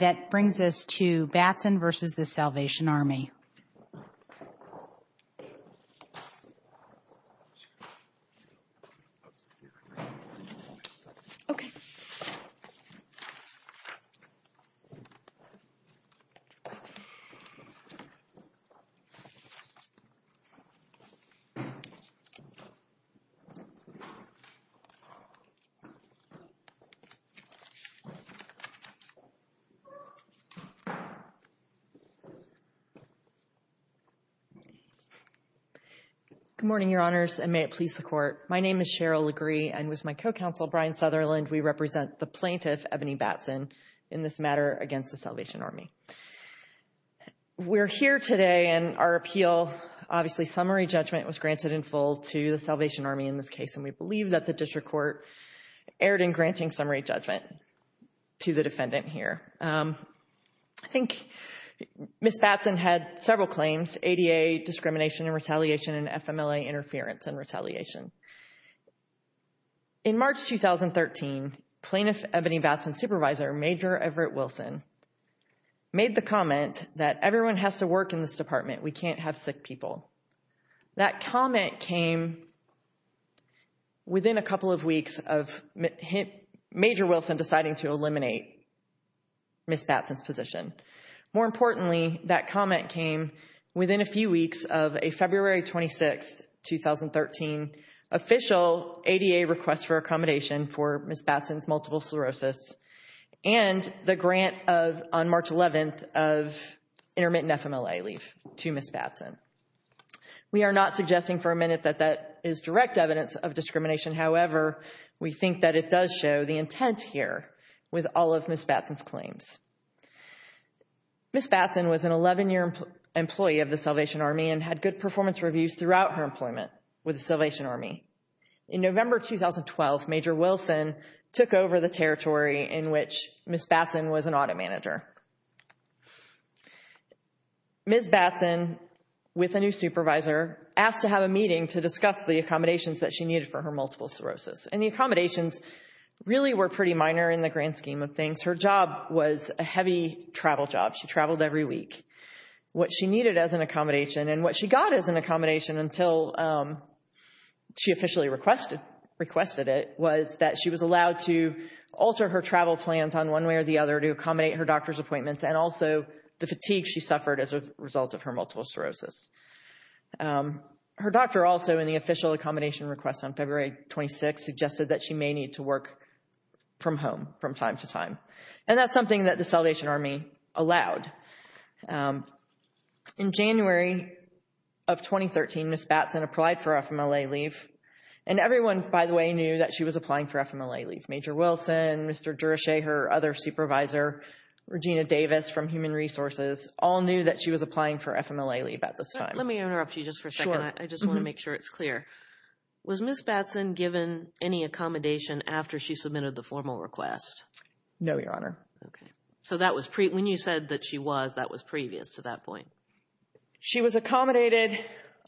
Ebonie Batson v. The Salvation Army Good morning, Your Honors, and may it please the Court. My name is Cheryl Legree, and with my co-counsel Brian Sutherland, we represent the plaintiff, Ebonie Batson, in this matter against the Salvation Army. We're here today, and our appeal, obviously, summary judgment was granted in full to the Salvation Army in this case, and we believe that the District Court erred in granting summary judgment to the defendant here. I think Ms. Batson had several claims, ADA discrimination and retaliation and FMLA interference and retaliation. In March 2013, Plaintiff Ebonie Batson's supervisor, Major Everett Wilson, made the comment that everyone has to work in this department. We can't have sick people. That comment came within a couple of weeks of Major Wilson deciding to eliminate Ms. Batson's claim within a few weeks of a February 26, 2013, official ADA request for accommodation for Ms. Batson's multiple sclerosis and the grant on March 11 of intermittent FMLA leave to Ms. Batson. We are not suggesting for a minute that that is direct evidence of discrimination. However, we think that it does show the intent here with all of Ms. Batson's claims. Ms. Batson was a former employee of the Salvation Army and had good performance reviews throughout her employment with the Salvation Army. In November 2012, Major Wilson took over the territory in which Ms. Batson was an audit manager. Ms. Batson, with a new supervisor, asked to have a meeting to discuss the accommodations that she needed for her multiple sclerosis, and the accommodations really were pretty minor in the grand scheme of things. Her job was a heavy travel job. She traveled every week. What she needed as an accommodation and what she got as an accommodation until she officially requested it was that she was allowed to alter her travel plans on one way or the other to accommodate her doctor's appointments and also the fatigue she suffered as a result of her multiple sclerosis. Her doctor also, in the official accommodation request on February 26, suggested that she may need to work from home from time to time, and that's something that the Salvation Army allowed. In January of 2013, Ms. Batson applied for FMLA leave, and everyone, by the way, knew that she was applying for FMLA leave. Major Wilson, Mr. Durasheher, other supervisor, Regina Davis from Human Resources all knew that she was applying for FMLA leave at this time. Let me interrupt you just for a second. I just want to make sure it's clear. Was Ms. No, Your Honor. Okay. So when you said that she was, that was previous to that point? She was accommodated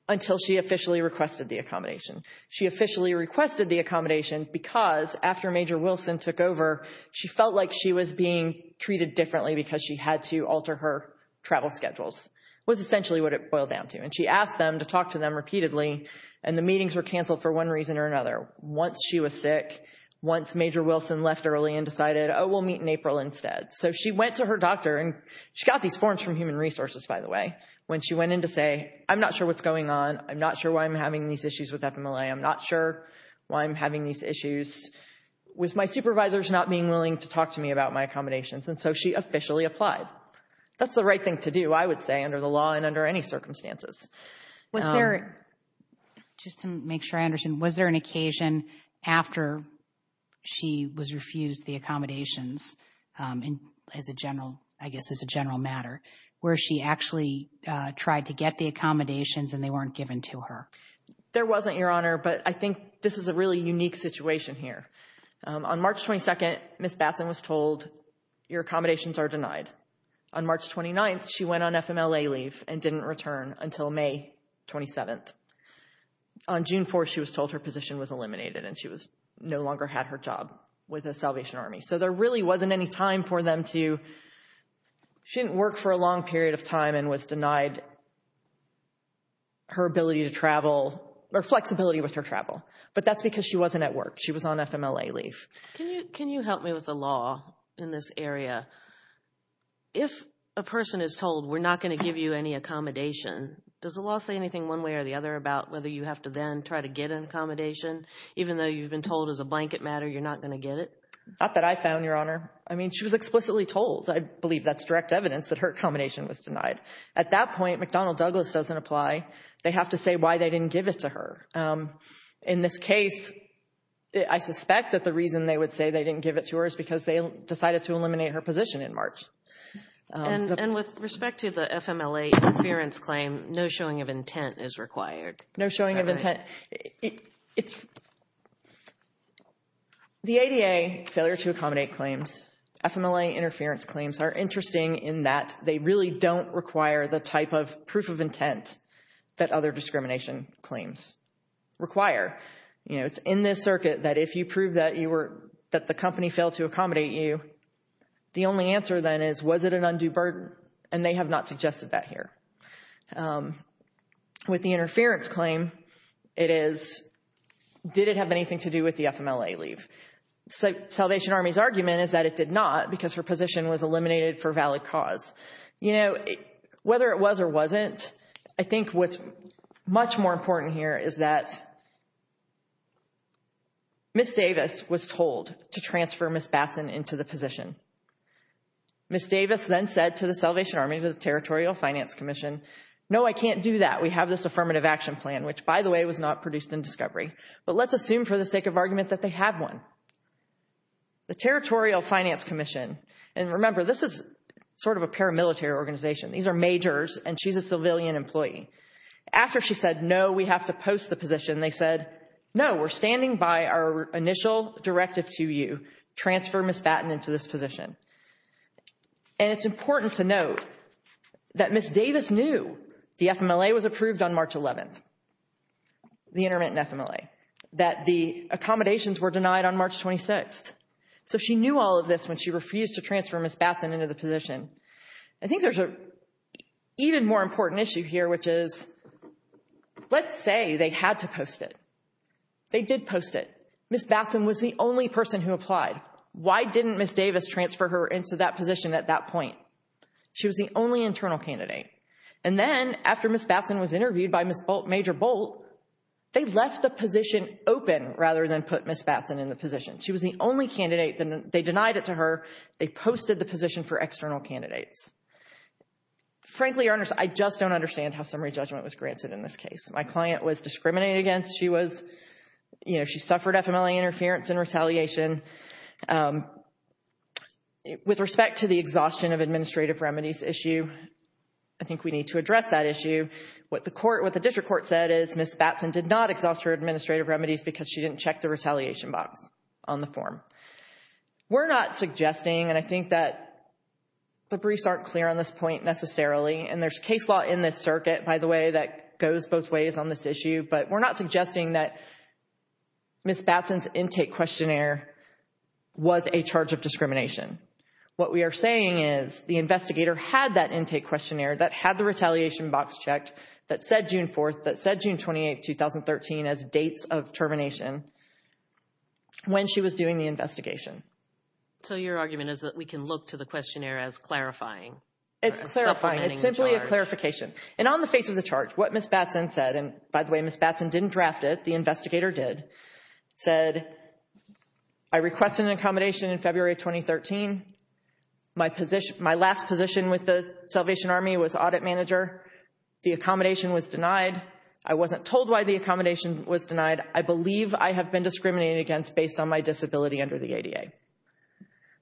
until she officially requested the accommodation. She officially requested the accommodation because after Major Wilson took over, she felt like she was being treated differently because she had to alter her travel schedules, was essentially what it boiled down to. And she asked them to talk to them repeatedly, and the meetings were canceled for one reason or another. Once she was sick, once Major Wilson left early and decided, oh, we'll meet in April instead. So she went to her doctor, and she got these forms from Human Resources, by the way, when she went in to say, I'm not sure what's going on. I'm not sure why I'm having these issues with FMLA. I'm not sure why I'm having these issues with my supervisors not being willing to talk to me about my accommodations. And so she officially applied. That's the right thing to do, I would say, under the law and under any circumstances. Was there, just to make sure I understand, was there an occasion after she was refused the accommodations as a general, I guess as a general matter, where she actually tried to get the accommodations and they weren't given to her? There wasn't, Your Honor, but I think this is a really unique situation here. On March 22nd, Ms. Batson was told, your accommodations are denied. On March 29th, she went on FMLA leave and didn't return until May 27th. On June 4th, she was told her position was eliminated, and she no longer had her job with the Salvation Army. So there really wasn't any time for them to, she didn't work for a long period of time and was denied her ability to travel, or flexibility with her travel. But that's because she wasn't at work. She was on FMLA leave. Can you help me with the law in this area? If a person is told, we're not going to give you any accommodation, does the law say anything one way or the other about whether you have to then try to get an accommodation, even though you've been told as a blanket matter you're not going to get it? Not that I found, Your Honor. I mean, she was explicitly told. I believe that's direct evidence that her accommodation was denied. At that point, McDonnell Douglas doesn't apply. They have to say why they didn't give it to her. In this case, I suspect that the reason they would say they didn't give it to her is because they decided to eliminate her position in March. And with respect to the FMLA interference claim, no showing of intent is required? No showing of intent. The ADA failure to accommodate claims, FMLA interference claims are interesting in that they really don't require the type of proof of intent that other discrimination claims require. You know, it's in this circuit that if you prove that the company failed to accommodate you, the only answer then is, was it an undue burden? And they have not suggested that here. With the interference claim, it is, did it have anything to do with the FMLA leave? Salvation Army's position was eliminated for valid cause. You know, whether it was or wasn't, I think what's much more important here is that Ms. Davis was told to transfer Ms. Batson into the position. Ms. Davis then said to the Salvation Army, to the Territorial Finance Commission, no, I can't do that. We have this affirmative action plan, which by the way, was not produced in discovery. But let's assume for the sake of argument that they have one. The Territorial Finance Commission, and remember, this is sort of a paramilitary organization. These are majors and she's a civilian employee. After she said, no, we have to post the position, they said, no, we're standing by our initial directive to you, transfer Ms. Batson into this position. And it's important to note that Ms. Davis knew the FMLA was approved on March 11th, the intermittent FMLA, that the accommodations were denied on March 26th. So she knew all of this when she refused to transfer Ms. Batson into the position. I think there's an even more important issue here, which is, let's say they had to post it. They did post it. Ms. Batson was the only person who applied. Why didn't Ms. Davis transfer her into that position at that point? She was the only internal candidate. And then after Ms. Batson was interviewed by Ms. Bolt, Major Bolt, they left the position open rather than put Ms. Batson in the position. She was the only candidate. They denied it to her. They posted the position for external candidates. Frankly, I just don't understand how summary judgment was granted in this case. My client was discriminated against. She was, you know, she suffered FMLA interference and retaliation. With respect to the exhaustion of administrative remedies issue, I think we need to address that issue. What the court, what the district court said is Ms. Batson did not exhaust her administrative remedies because she didn't check the retaliation box on the form. We're not suggesting, and I think that the briefs aren't clear on this point necessarily, and there's case law in this circuit, by the way, that goes both ways on this issue. But we're not suggesting that Ms. Batson's intake questionnaire was a charge of discrimination. What we are saying is the investigator had that intake questionnaire that had the retaliation box checked, that said June 4th, that said June 28th, 2013 as dates of termination when she was doing the investigation. So your argument is that we can look to the questionnaire as clarifying? It's clarifying. It's simply a clarification. And on the face of the charge, what Ms. Batson said, and by the way, Ms. Batson didn't draft it, the investigator did, said, I requested an accommodation in February 2013. My last position with the Salvation Army was audit manager. The accommodation was denied. I wasn't told why the accommodation was denied. I believe I have been discriminated against based on my disability under the ADA.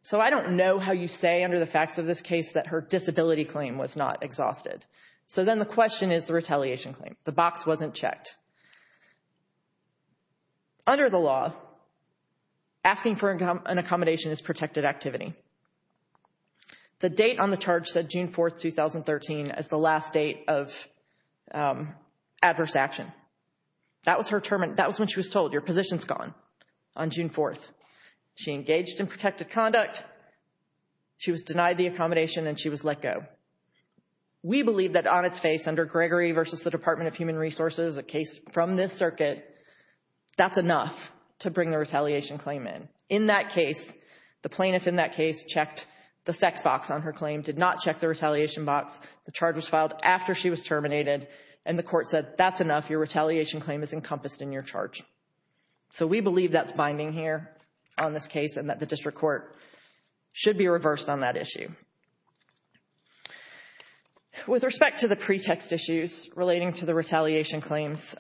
So I don't know how you say under the facts of this case that her disability claim was not exhausted. So then the question is the retaliation claim. The box wasn't checked. Under the law, asking for an accommodation is protected activity. The date on the charge said June 4th, 2013 as the last date of adverse action. That was when she was told, your position's gone on June 4th. She engaged in protected conduct. She was denied the accommodation and she was let go. We believe that on its face, under Gregory versus the Department of Human Resources, a case from this circuit, that's enough to bring the retaliation claim in. In that case, the plaintiff in that case checked the sex box on her claim, did not check the retaliation box. The charge was filed after she was terminated and the court said, that's enough. Your retaliation claim is encompassed in your charge. So we believe that's binding here on this case and that the district court should be reversed on that case. With respect to the pretext issues relating to the retaliation claims,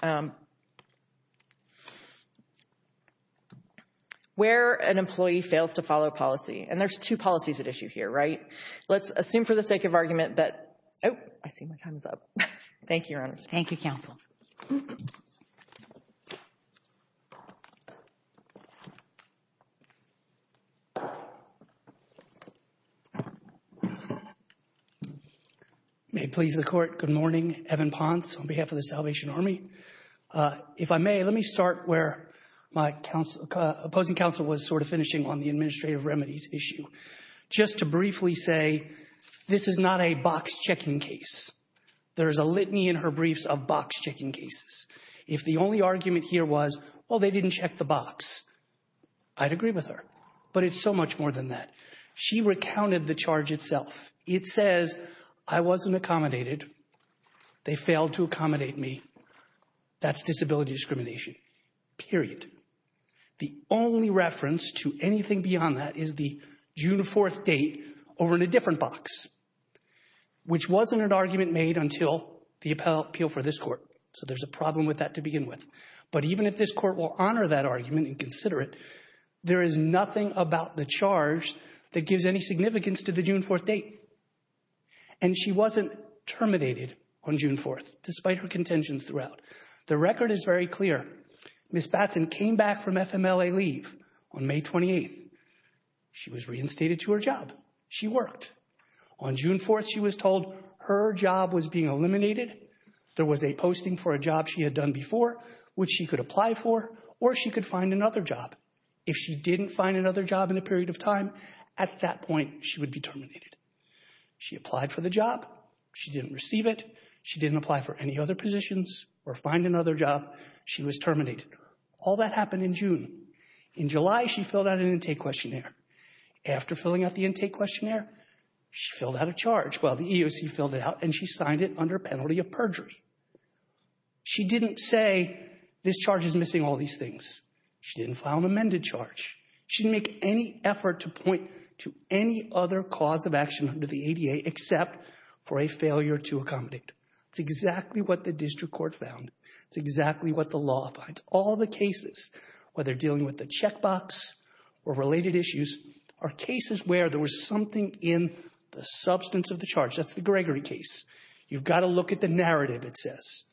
where an employee fails to follow policy, and there's two policies at issue here, right? Let's assume for the sake of argument that, oh, I see my time's up. Thank you, Your Honors. Thank you, counsel. May it please the court, good morning. Evan Ponce on behalf of the Salvation Army. If I may, let me start where my opposing counsel was sort of finishing on the administrative remedies issue. Just to briefly say, this is not a box checking case. There is a litany in her briefs of box checking cases. If the only argument here was, well, they didn't check the box, I'd agree with her. But it's so much more than that. She recounted the charge itself. It says, I wasn't accommodated. They failed to accommodate me. That's disability discrimination, period. The only reference to anything beyond that is the June 4th date over in a different box, which wasn't an argument made until the appeal for this court. So there's a problem with that to begin with. But even if this court will honor that argument and consider it, there is nothing about the charge that gives any significance to the June 4th date. And she wasn't terminated on June 4th, despite her contentions throughout. The record is very clear. Ms. Batson came back from FMLA leave on May 28th. She was reinstated to her job. She worked. On June 4th, she was told her job was being eliminated. There was a posting for a job she had done before, which she could apply for, or she could find another job. If she didn't find another job in a period of time, at that point, she would be terminated. She applied for the job. She didn't receive it. She didn't apply for any other positions or find another job. She was terminated. All that happened in June. In July, she filled out an intake questionnaire. After filling out the intake questionnaire, she filled out a charge. Well, the EEOC filled it out, and she signed it under penalty of perjury. She didn't say, this charge is missing all these things. She didn't file an amended charge. She didn't make any effort to point to any other cause of action under the ADA except for a failure to accommodate. It's exactly what the district court found. It's exactly what the law finds. All the cases, whether dealing with the checkbox or related issues, are cases where there was something in the substance of the charge. That's the Gregory case. You've got to look at the narrative, it says.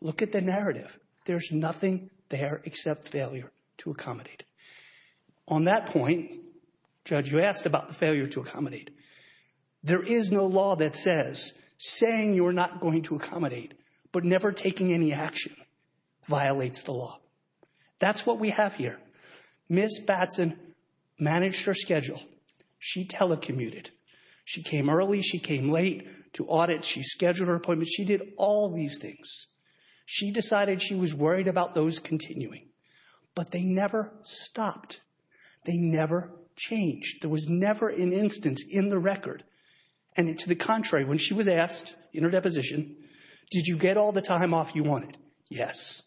Look at the narrative. There's nothing there except failure to accommodate. On that point, Judge, you asked about the failure to accommodate. There is no law that says, saying you're not going to accommodate, but never taking any action violates the law. That's what we have here. Ms. Batson managed her schedule. She telecommuted. She came early. She came late to audit. She scheduled her appointments. She did all these things. She decided she was worried about those continuing, but they never stopped. They never changed. There was never an instance in the record. And to the contrary, when she was asked in her deposition, did you get all the time off you wanted? Yes.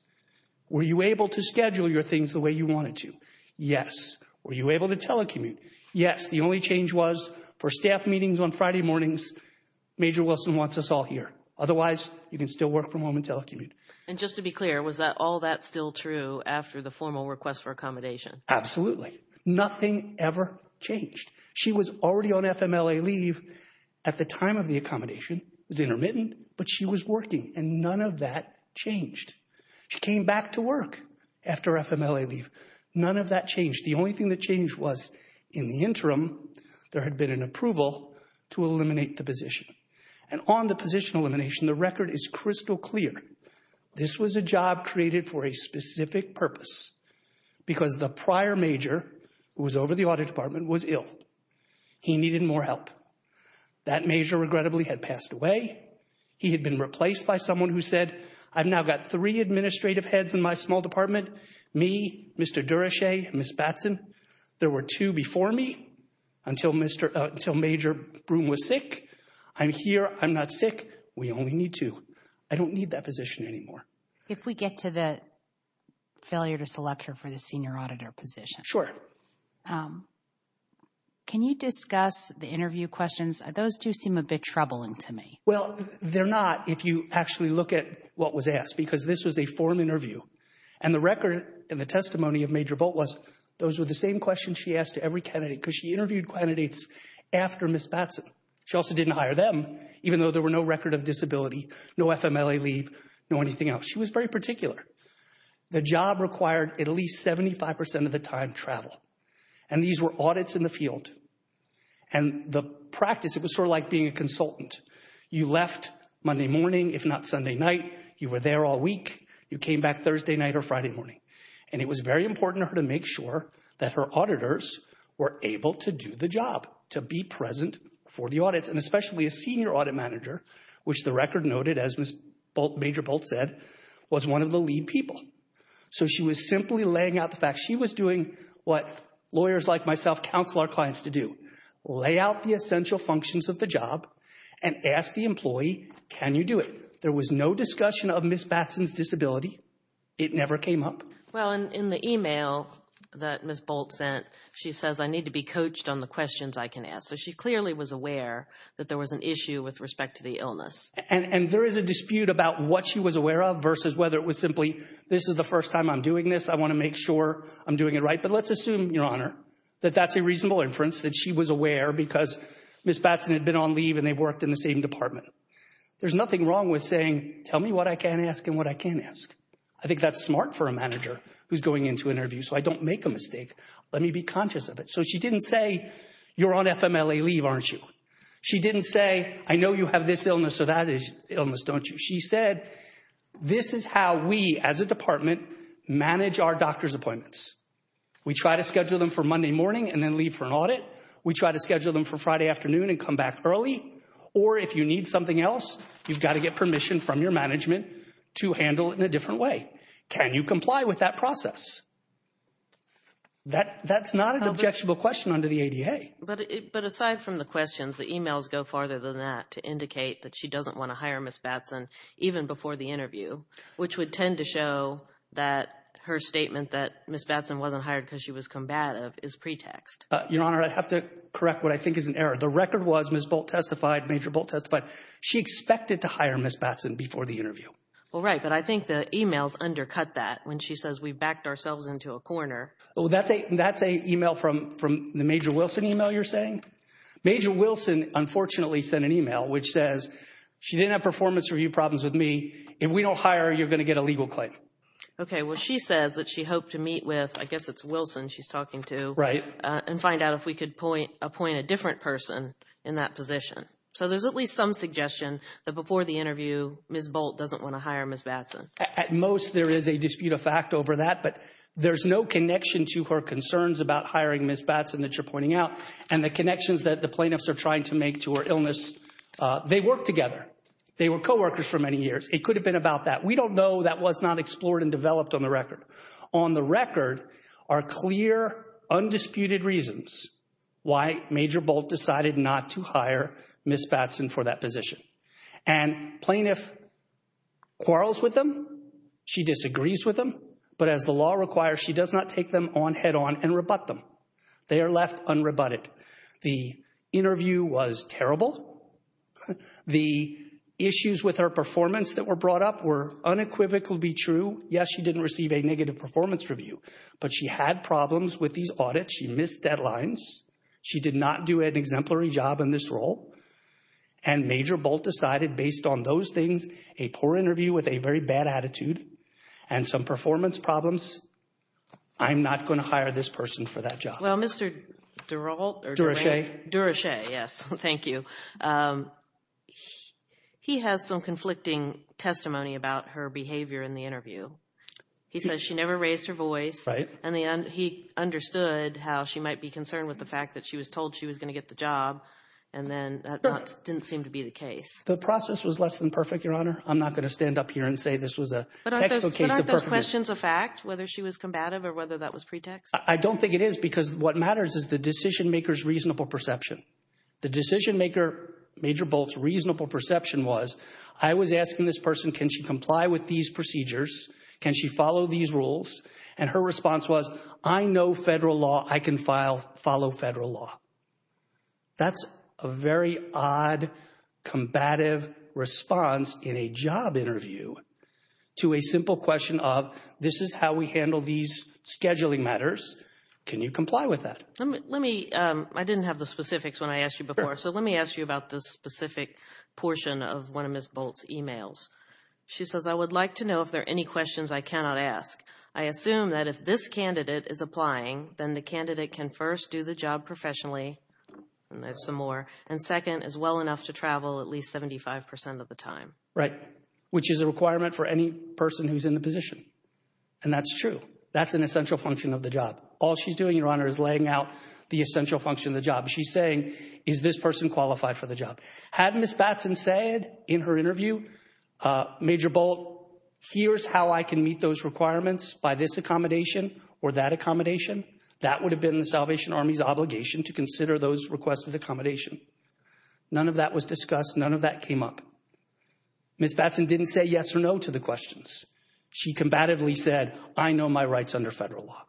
Were you able to schedule your things the way you wanted to? Yes. Were you able to telecommute? Yes. The only change was for staff meetings on Friday mornings, Major Wilson wants us all here. Otherwise, you can still work from home and telecommute. And just to be clear, was that all that still true after the formal request for accommodation? Absolutely. Nothing ever changed. She was already on FMLA leave at the time of the accommodation. It was intermittent, but she was working and none of that changed. She came back to work after FMLA leave. None of that changed. The only thing that changed was in the interim, there had been an approval to eliminate the position. And on the position elimination, the record is crystal clear. This was a job created for a specific purpose because the prior major who was over the audit department was ill. He needed more help. That major regrettably had passed away. He had been replaced by someone who said, I've now got three administrative heads in my small department. Me, Mr. Durashay, Miss Batson. There were two before me until Major Broome was sick. I'm here. I'm not sick. We only need two. I don't need that position anymore. If we get to the failure to select her for the senior auditor position, can you discuss the interview questions? Those do seem a bit troubling to me. Well, they're not if you actually look at what was asked because this was a forum interview and the record and the testimony of Major Bolt was those were the same questions she asked to every candidate because she interviewed candidates after Miss Batson. She also didn't hire them even though there were no record of anything else. She was very particular. The job required at least 75% of the time travel. And these were audits in the field. And the practice, it was sort of like being a consultant. You left Monday morning, if not Sunday night. You were there all week. You came back Thursday night or Friday morning. And it was very important to her to make sure that her auditors were able to do the job to be present for the audits and especially a senior audit manager, which the was one of the lead people. So she was simply laying out the fact she was doing what lawyers like myself counsel our clients to do. Lay out the essential functions of the job and ask the employee, can you do it? There was no discussion of Miss Batson's disability. It never came up. Well, in the email that Miss Bolt sent, she says, I need to be coached on the questions I can ask. So she clearly was aware that there was an issue with respect to the illness. And there is a dispute about what she was aware of versus whether it was simply, this is the first time I'm doing this. I want to make sure I'm doing it right. But let's assume, Your Honor, that that's a reasonable inference that she was aware because Miss Batson had been on leave and they worked in the same department. There's nothing wrong with saying, tell me what I can ask and what I can ask. I think that's smart for a manager who's going into interviews. So I don't make a mistake. Let me be conscious of it. So she didn't say, you're on FMLA leave, aren't you? She didn't say, I know you have this illness or that illness, don't you? She said, this is how we, as a department, manage our doctor's appointments. We try to schedule them for Monday morning and then leave for an audit. We try to schedule them for Friday afternoon and come back early. Or if you need something else, you've got to get permission from your management to handle it in a different way. Can you comply with that process? That's not an objectionable question under the ADA. But aside from the questions, the emails go farther than that to indicate that she doesn't want to hire Miss Batson even before the interview, which would tend to show that her statement that Miss Batson wasn't hired because she was combative is pretext. Your Honor, I'd have to correct what I think is an error. The record was Miss Bolt testified, Major Bolt testified. She expected to hire Miss Batson before the interview. Well, right. But I think the emails undercut that when she says we backed ourselves up into a corner. That's an email from the Major Wilson email, you're saying? Major Wilson, unfortunately, sent an email which says she didn't have performance review problems with me. If we don't hire her, you're going to get a legal claim. Okay. Well, she says that she hoped to meet with, I guess it's Wilson she's talking to, and find out if we could appoint a different person in that position. So there's at least some suggestion that before the interview, Miss Bolt doesn't want to hire Miss Batson. At most, there is a dispute of fact over that, but there's no connection to her concerns about hiring Miss Batson that you're pointing out. And the connections that the plaintiffs are trying to make to her illness, they work together. They were coworkers for many years. It could have been about that. We don't know. That was not explored and developed on the record. On the record are clear, undisputed reasons why Major Bolt decided not to hire Miss Batson for that position. And plaintiff quarrels with them. She disagrees with them. But as the law requires, she does not take them on head-on and rebut them. They are left unrebutted. The interview was terrible. The issues with her performance that were brought up were unequivocally true. Yes, she didn't receive a negative performance review, but she had problems with these audits. She missed deadlines. She did not do an exemplary job in this role. And Major Bolt decided, based on those things, a poor interview with a very bad attitude and some performance problems, I'm not going to hire this person for that job. Well, Mr. Durashay, he has some conflicting testimony about her behavior in the interview. He says she never raised her voice, and he understood how she might be concerned with the fact that she was told she was going to get the job, and then that didn't seem to be the case. The process was less than perfect, Your Honor. I'm not going to stand up here and say this was a textbook case of perfected. But aren't those questions a fact, whether she was combative or whether that was pretext? I don't think it is, because what matters is the decision-maker's reasonable perception. The decision-maker, Major Bolt's, reasonable perception was, I was asking this person, can she comply with these procedures? Can she follow these rules? And her response was, I know federal law. I can follow federal law. That's a very odd, combative response in a job interview to a simple question of, this is how we handle these scheduling matters. Can you comply with that? Let me, I didn't have the specifics when I asked you before, so let me ask you about this specific portion of one of Ms. Bolt's emails. She says, I would like to know if there are any questions I cannot ask. I assume that if this candidate is applying, then the candidate can first do the job professionally, and there's some more, and second, is well enough to travel at least 75% of the time. Right. Which is a requirement for any person who's in the position. And that's true. That's an essential function of the job. All she's doing, Your Honor, is laying out the essential function of the job. She's saying, is this person qualified for the job? Had Ms. Batson said in her interview, Major Bolt, here's how I can meet those requirements by this accommodation or that accommodation, that would have been the Salvation Army's obligation to consider those requests of accommodation. None of that was discussed. None of that came up. Ms. Batson didn't say yes or no to the questions. She combatively said, I know my rights under federal law.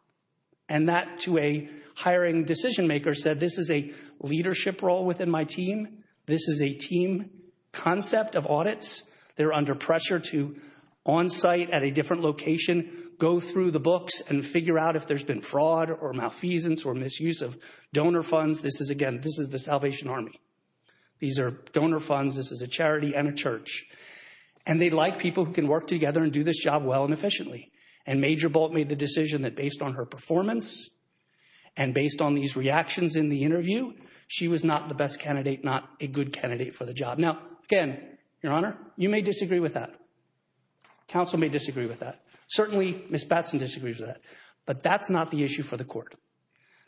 And that, to a hiring decision maker, said this is a leadership role within my team. This is a team concept of audits. They're under pressure to, on site at a different location, go through the books and figure out if there's been fraud or malfeasance or misuse of donor funds. This is, again, this is the Salvation Army. These are donor funds. This is a charity and a church. And they like people who can work together and do this job well and efficiently. And Major Bolt made the decision that based on her reactions in the interview, she was not the best candidate, not a good candidate for the job. Now, again, Your Honor, you may disagree with that. Counsel may disagree with that. Certainly, Ms. Batson disagrees with that. But that's not the issue for the court.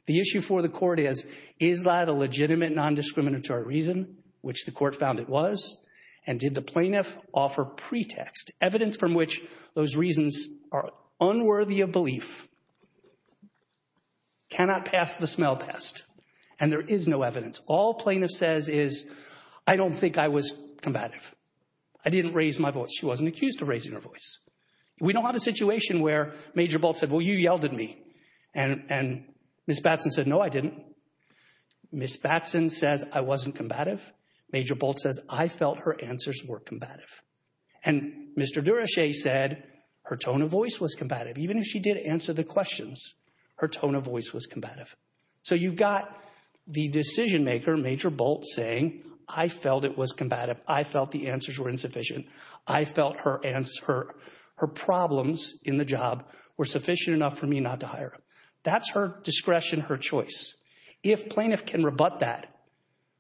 The issue for the court is, is that a legitimate non-discriminatory reason, which the court found it was? And did the plaintiff offer pretext? Evidence from which those reasons are unworthy of belief cannot pass the smell test. And there is no evidence. All plaintiff says is, I don't think I was combative. I didn't raise my voice. She wasn't accused of raising her voice. We don't have a situation where Major Bolt said, well, you yelled at me. And Ms. Batson said, no, I didn't. Ms. Batson says, I wasn't combative. Major Bolt says, I felt her answers were combative. And Mr. Durashay said, her tone of voice was combative. Even if she did answer the questions, her tone of voice was combative. So you've got the decision maker, Major Bolt, saying, I felt it was combative. I felt the answers were insufficient. I felt her answer, her problems in the job were sufficient enough for me not to hire her. That's her discretion, her choice. If plaintiff can rebut that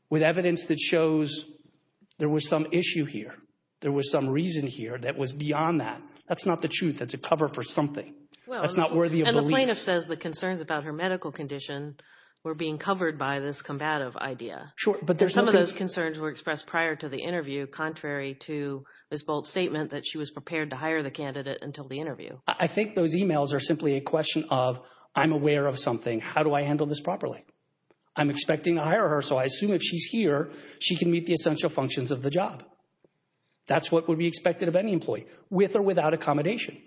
with evidence that shows there was some issue here, there was some reason here that was beyond that, that's not the truth. That's a cover for something. That's not worthy of belief. And the plaintiff says the concerns about her medical condition were being covered by this combative idea. Some of those concerns were expressed prior to the interview, contrary to Ms. Bolt's statement that she was prepared to hire the candidate until the interview. I think those emails are simply a question of, I'm aware of something. How do I handle this properly? I'm expecting to hire her, so I assume if she's here, she can meet the essential functions of the job. That's what would be expected of any employee, with or without accommodation.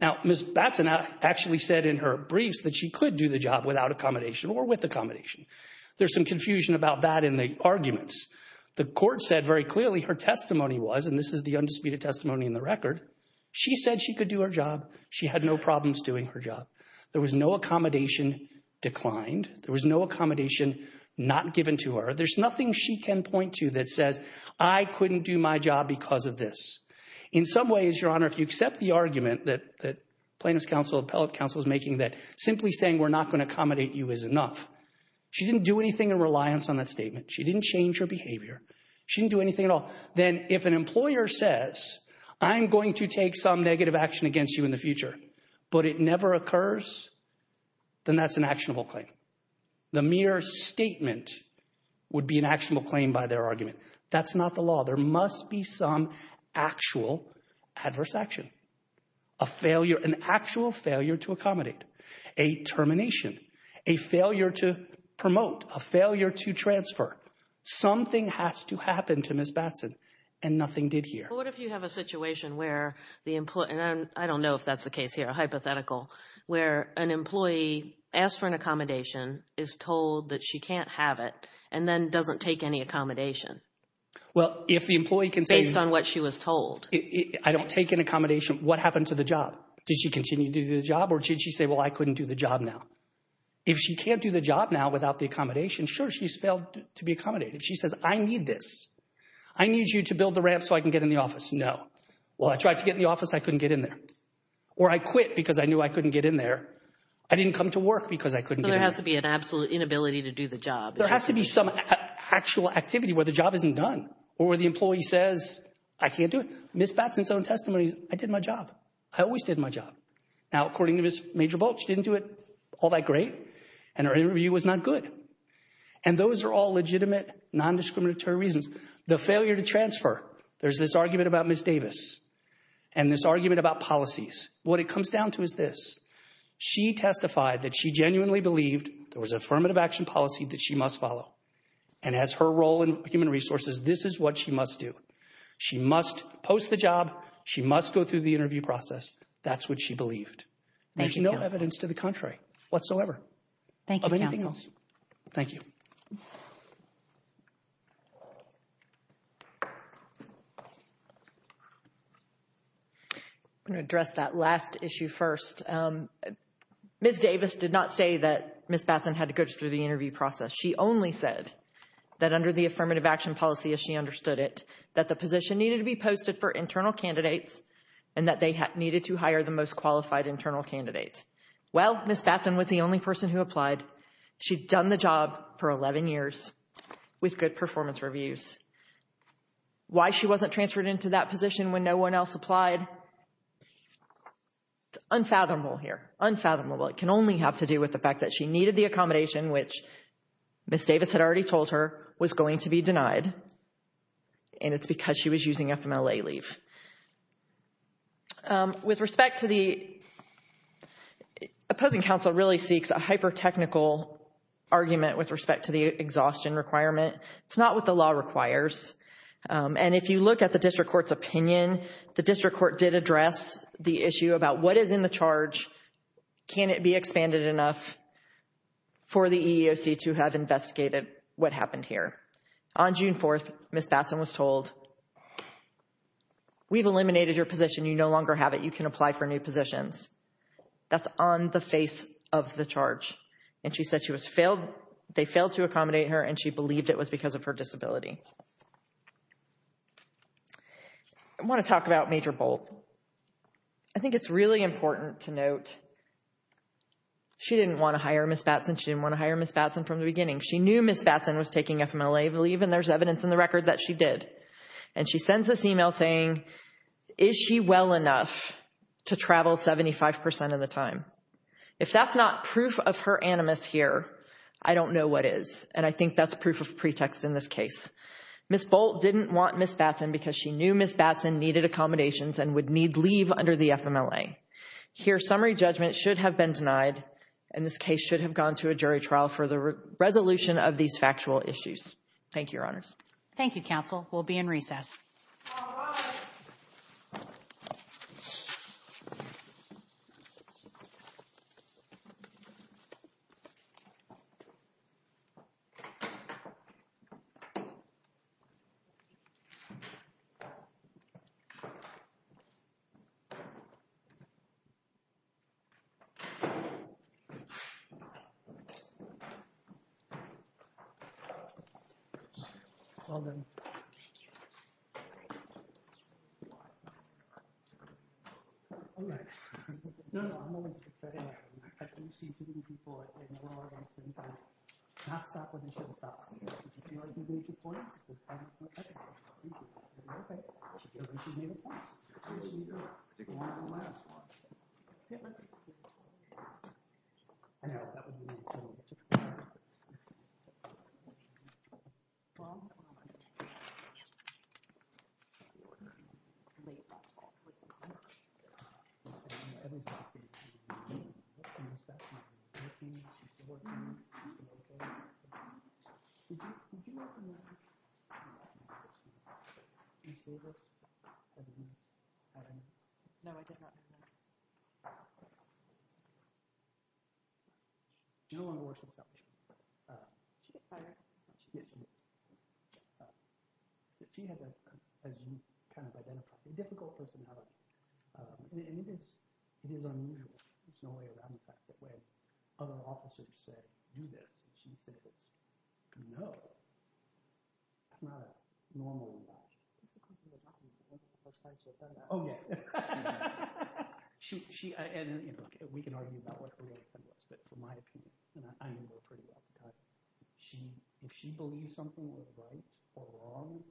Now, Ms. Batson actually said in her briefs that she could do the job without accommodation or with accommodation. There's some confusion about that in the arguments. The court said very clearly her testimony was, and this is the undisputed testimony in the record, she said she could do her job. She had no problems doing her job. There was no accommodation declined. There was no accommodation not given to her. There's nothing she can point to that says, I couldn't do my job because of this. In some ways, Your Honor, if you accept the argument that Plaintiff's Counsel, Appellate Counsel is making, that simply saying we're not going to accommodate you is enough. She didn't do anything in reliance on that statement. She didn't change her behavior. She didn't do anything at all. Then, if an employer says, I'm going to take some negative action against you in the future, but it never occurs, then that's an actionable claim. The mere statement would be an actionable claim by their argument. That's not the law. There must be some actual adverse action, a failure, an actual failure to accommodate, a termination, a failure to promote, a failure to transfer. Something has to happen to Ms. Batson and nothing did here. What if you have a situation where the employee, and I don't know if that's the case here, a hypothetical, where an employee asks for an accommodation, is told that she can't have it, and then doesn't take any accommodation? Well, if the employee can say- Based on what she was told. I don't take an accommodation. What happened to the job? Did she continue to do the job now? If she can't do the job now without the accommodation, sure, she's failed to be accommodated. If she says, I need this. I need you to build the ramp so I can get in the office. No. Well, I tried to get in the office. I couldn't get in there. Or I quit because I knew I couldn't get in there. I didn't come to work because I couldn't get in there. There has to be an absolute inability to do the job. There has to be some actual activity where the job isn't done, or where the employee says, I can't do it. Ms. Batson's own testimony, I did my job. I always did my job. Now, according to Ms. Major Bolch, she didn't do it all that great, and her interview was not good. And those are all legitimate, non-discriminatory reasons. The failure to transfer. There's this argument about Ms. Davis, and this argument about policies. What it comes down to is this. She testified that she genuinely believed there was affirmative action policy that she must follow. And as her role in Human Resources, this is what she must do. She must post a job. She must go through the interview process. That's what she believed. There's no evidence to the contrary whatsoever of anything else. Thank you. I'm going to address that last issue first. Ms. Davis did not say that Ms. Batson had to go through the interview process. She only said that under the affirmative action policy, as she understood it, that the position needed to be posted for internal candidates and that they needed to hire the most qualified internal candidate. Well, Ms. Batson was the only person who applied. She'd done the job for 11 years with good performance reviews. Why she wasn't transferred into that position when no one else applied, it's unfathomable here. Unfathomable. It can only have to do with the fact that she needed the accommodation, which Ms. Davis had already told her was going to be denied. And it's because she was using FMLA leave. With respect to the opposing counsel really seeks a hyper-technical argument with respect to the exhaustion requirement. It's not what the law requires. And if you look at the district court's opinion, the district court did address the issue about what is in the charge. Can it be expanded enough for the EEOC to have investigated what happened here? On June 4th, Ms. Batson was told, we've eliminated your position. You no longer have it. You can apply for new positions. That's on the face of the charge. And she said they failed to accommodate her and she believed it was because of her disability. I want to talk about Major Bolt. I think it's really important to note she didn't want to hire Ms. Batson. She didn't want FMLA leave and there's evidence in the record that she did. And she sends this email saying, is she well enough to travel 75% of the time? If that's not proof of her animus here, I don't know what is. And I think that's proof of pretext in this case. Ms. Bolt didn't want Ms. Batson because she knew Ms. Batson needed accommodations and would need leave under the FMLA. Here, summary judgment should have been denied and this case should have gone to a jury trial for the issues. Thank you, Your Honors. Thank you, counsel. We'll be in recess. Well done. Thank you. I guess, cause she has that, as you kind of identified, a difficult personality. And it is unusual. There's no way around the fact that when other officers say, do this, she said it's, no. Not a normal reaction. It's the first time she's ever done that. Oh, yeah. We can argue about what her reaction was, but in my opinion, I know her pretty well, because if she believes something was right or wrong.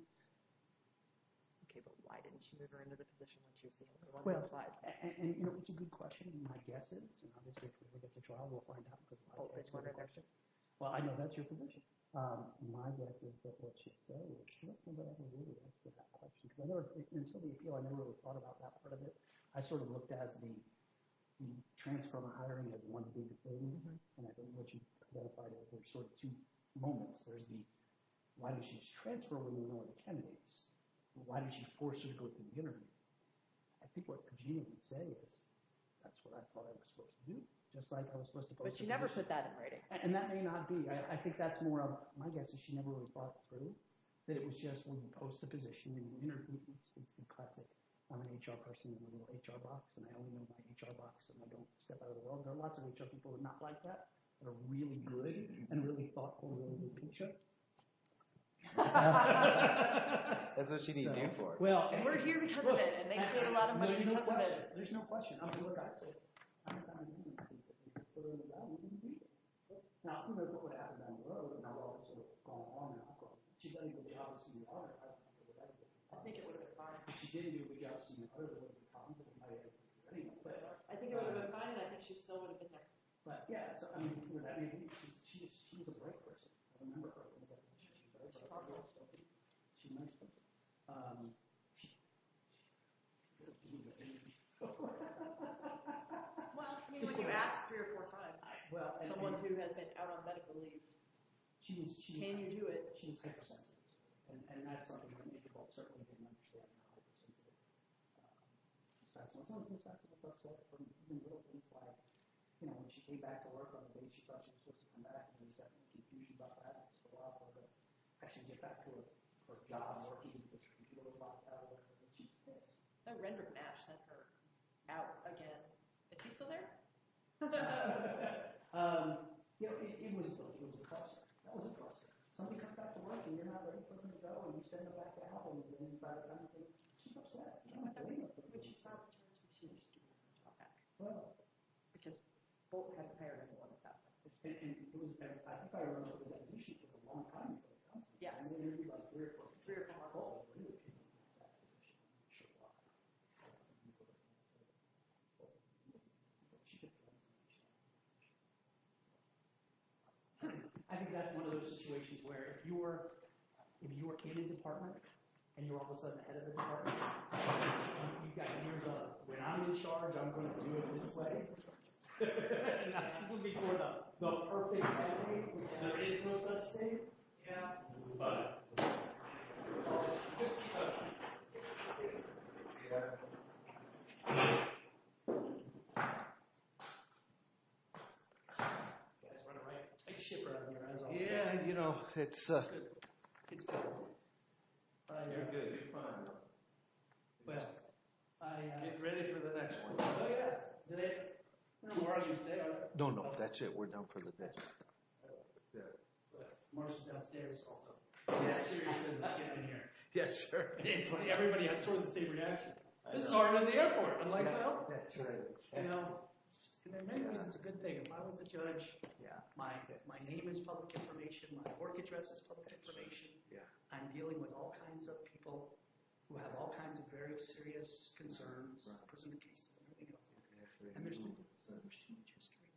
Okay, but why didn't she get her into the position when she was the one that applied? And you know, it's a good question. My guess is, and obviously if you look at the trial, we'll find out in good time. Oh, there's one right there, sir. Well, I know that's your position. My guess is that what she said was correct, but I haven't really answered that question. Because I know, until the appeal, I never really thought about that part of it. I sort of looked at the transfer of hiring as one big thing. And I think what you've identified are sort of two moments. There's the, why did she transfer when you know the candidates? Why did she force her to go to the interview? I think what Pugini would say is, that's what I thought I was supposed to do. Just like I was supposed to post the position. But she never put that in writing. And that may not be. I think that's more of, my guess is she never really thought through that it was just when you post the position in the interview, it's the classic, I'm an HR person in a little HR box, and I only know my HR box, and I don't step out of the world. There are lots of HR people who are not like that, that are really good and really thoughtful in the interview picture. That's what she needs you for. Well, we're here because of it, and they paid a lot of money because of it. There's no question. I mean, look, I'd say, I haven't found anything that's really valuable to me. Now, I don't know what would have happened down the road, if not all of this would have gone on now. She's done a good job of seeing the other. I don't think it would have been fine. If she didn't do a good job of seeing the other, there wouldn't be a problem with the entire thing. I think it would have been fine, and I think she still would have been there. But, yeah, so, I mean, she's a great person. Well, I mean, when you ask three or four times, someone who has been out on medical leave, can you do it? She's hypersensitive, and that's something that many people certainly didn't understand how hypersensitive is. So, it's something that comes back to the folks, like, from even little things, like, you know, when she came back to work on a date, she thought she was supposed to come back, and she was definitely confused about that, and it was a lot more of a, I should get back to her job, or even get her computer box out of there, but then she's pissed. So, Rendrick Nash sent her out again. Is she still there? You know, it was a cluster. That was a cluster. Somebody comes back to work, and you're not ready for them to go, and you send them back to Apple, and you get inside, and she's upset. You know what I mean? But she thought she was going to come back. Well. Because both had a paradigm going with that. And it was, I think I remember, like, you should take a long time to get back. Yes. And then there'd be, like, three or four, three or four calls. I think that's one of those situations where if you were, if you were in a department, and you're all of a sudden head of the department, you've got years of, when I'm in charge, I'm going to do it this way. And that's when we form the perfect family, which there is no such thing. Yeah. But. You guys run it right? I can see it right in your eyes over there. Yeah, you know, it's. It's good. You're good. You're fine. Well, I get ready for the next one. Oh, yeah. Is it tomorrow? You stay. No, no. That's it. We're done for the day. Marshall's downstairs. Also, yes. Yes, sir. Everybody had sort of the same reaction. This is already in the airport. I'm like, well, that's right. You know, maybe it's a good thing. If I was a judge. Yeah. My my name is public information. My work address is public information. Yeah. I'm dealing with all kinds of people who have all kinds of very serious concerns. Presumably. And there's no such industry.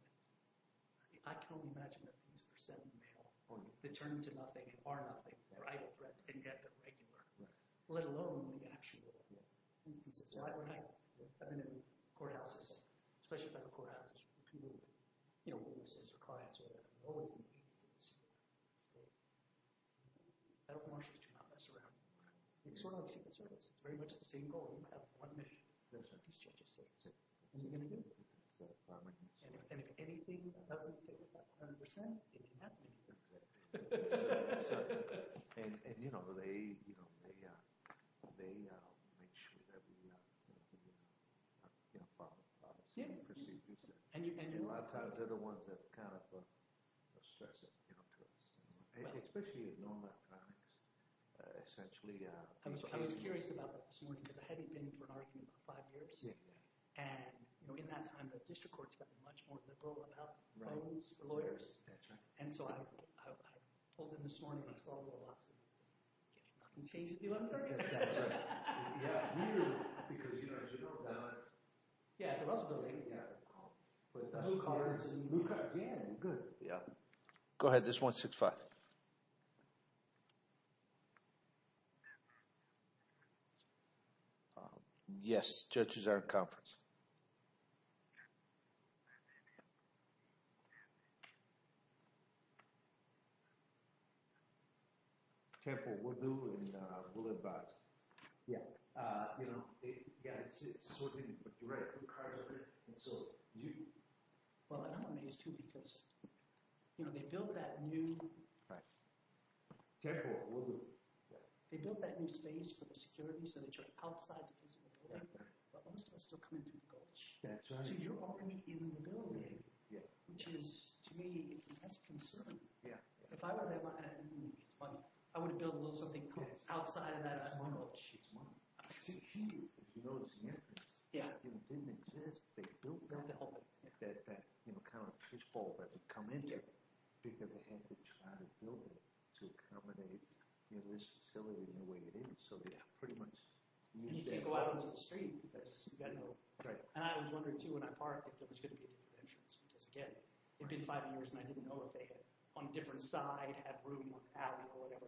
I can only imagine that these are seven male on the turn to nothing or nothing for either threats and get the regular, let alone the actual instances. So I've been in courthouses, especially by the courthouses. You know, witnesses or clients are always. So. I don't want you to mess around. It's sort of a secret service. It's very much the same goal. You have one mission. That's what these judges say. And you're going to do it. So and if anything doesn't fit 100 percent, it can happen. And, you know, they, you know, they they make sure that we follow the same procedures. And a lot of times they're the ones that kind of stress. Especially, you know, essentially. I was I was curious about this morning because I hadn't been for five years. And, you know, in that time, the district court's got much more to go about. Right. Lawyers. That's right. And so I pulled in this morning. I saw a lot of things change at the 11th Circuit. Yeah, because, you know, as you know. Yeah, there was a delay. Yeah. But that's the cards. Yeah. Good. Yeah. Go ahead, this one, six, five. Yes, judges are conference. Careful, we'll do it. We'll advise. Yeah. You know, it's it's sort of a dreadful part of it. So you. Well, I don't want to use two because. You know, they build that new. Right. Careful. They built that new space for the security so that you're outside the physical. But most of us still come into the coach. That's right. So you're already in the building. Yeah. Which is to me, that's concerning. Yeah. If I were there, I mean, it's funny. I would build a little something outside of that. I don't know. She's mine. She knows. Yeah. You know, didn't exist. They don't know that that, you know, kind of fishbowl that would come in. Because they had to try to build it to accommodate in this facility in the way it is. So they pretty much need to go out into the street. You got to know. Right. And I was wondering, too, when I parked, if it was going to be insurance, because, again, it did five years and I didn't know if they had on a different side, had room out or whatever.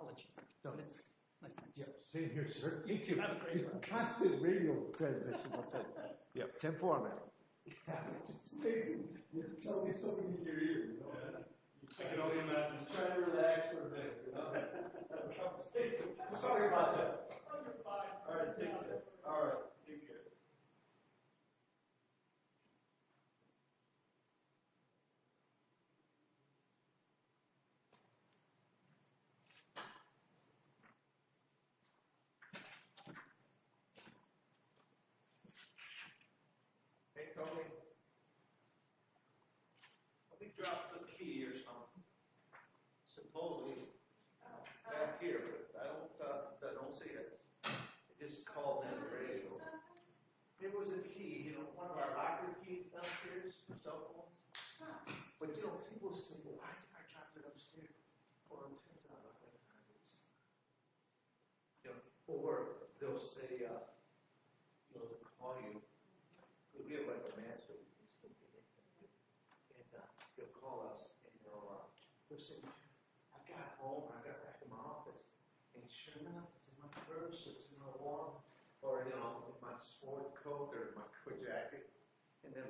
I'll let you know. It's nice to see you here, sir. You can have a great concert radio. Yeah. Ten four. Yeah, it's amazing. It's always so good to hear you. I can only imagine trying to relax for a bit, you know. Sorry about that. All right. Thank you. All right. Thank you. Hey, Tony. We dropped the key years home, supposedly back here. I don't I don't say this is called. It was a key, you know, one of our key cell phones. But you know, people say, well, I got to go upstairs. Well, I'm going to. Or they'll say, uh, you know, call you. We have like a man. And you'll call us and go up. Listen, I got home. I got back in my office and sure enough, it's in my purse. It's in the wall or, you know, my sport coat or my jacket. And then. Okay, thanks.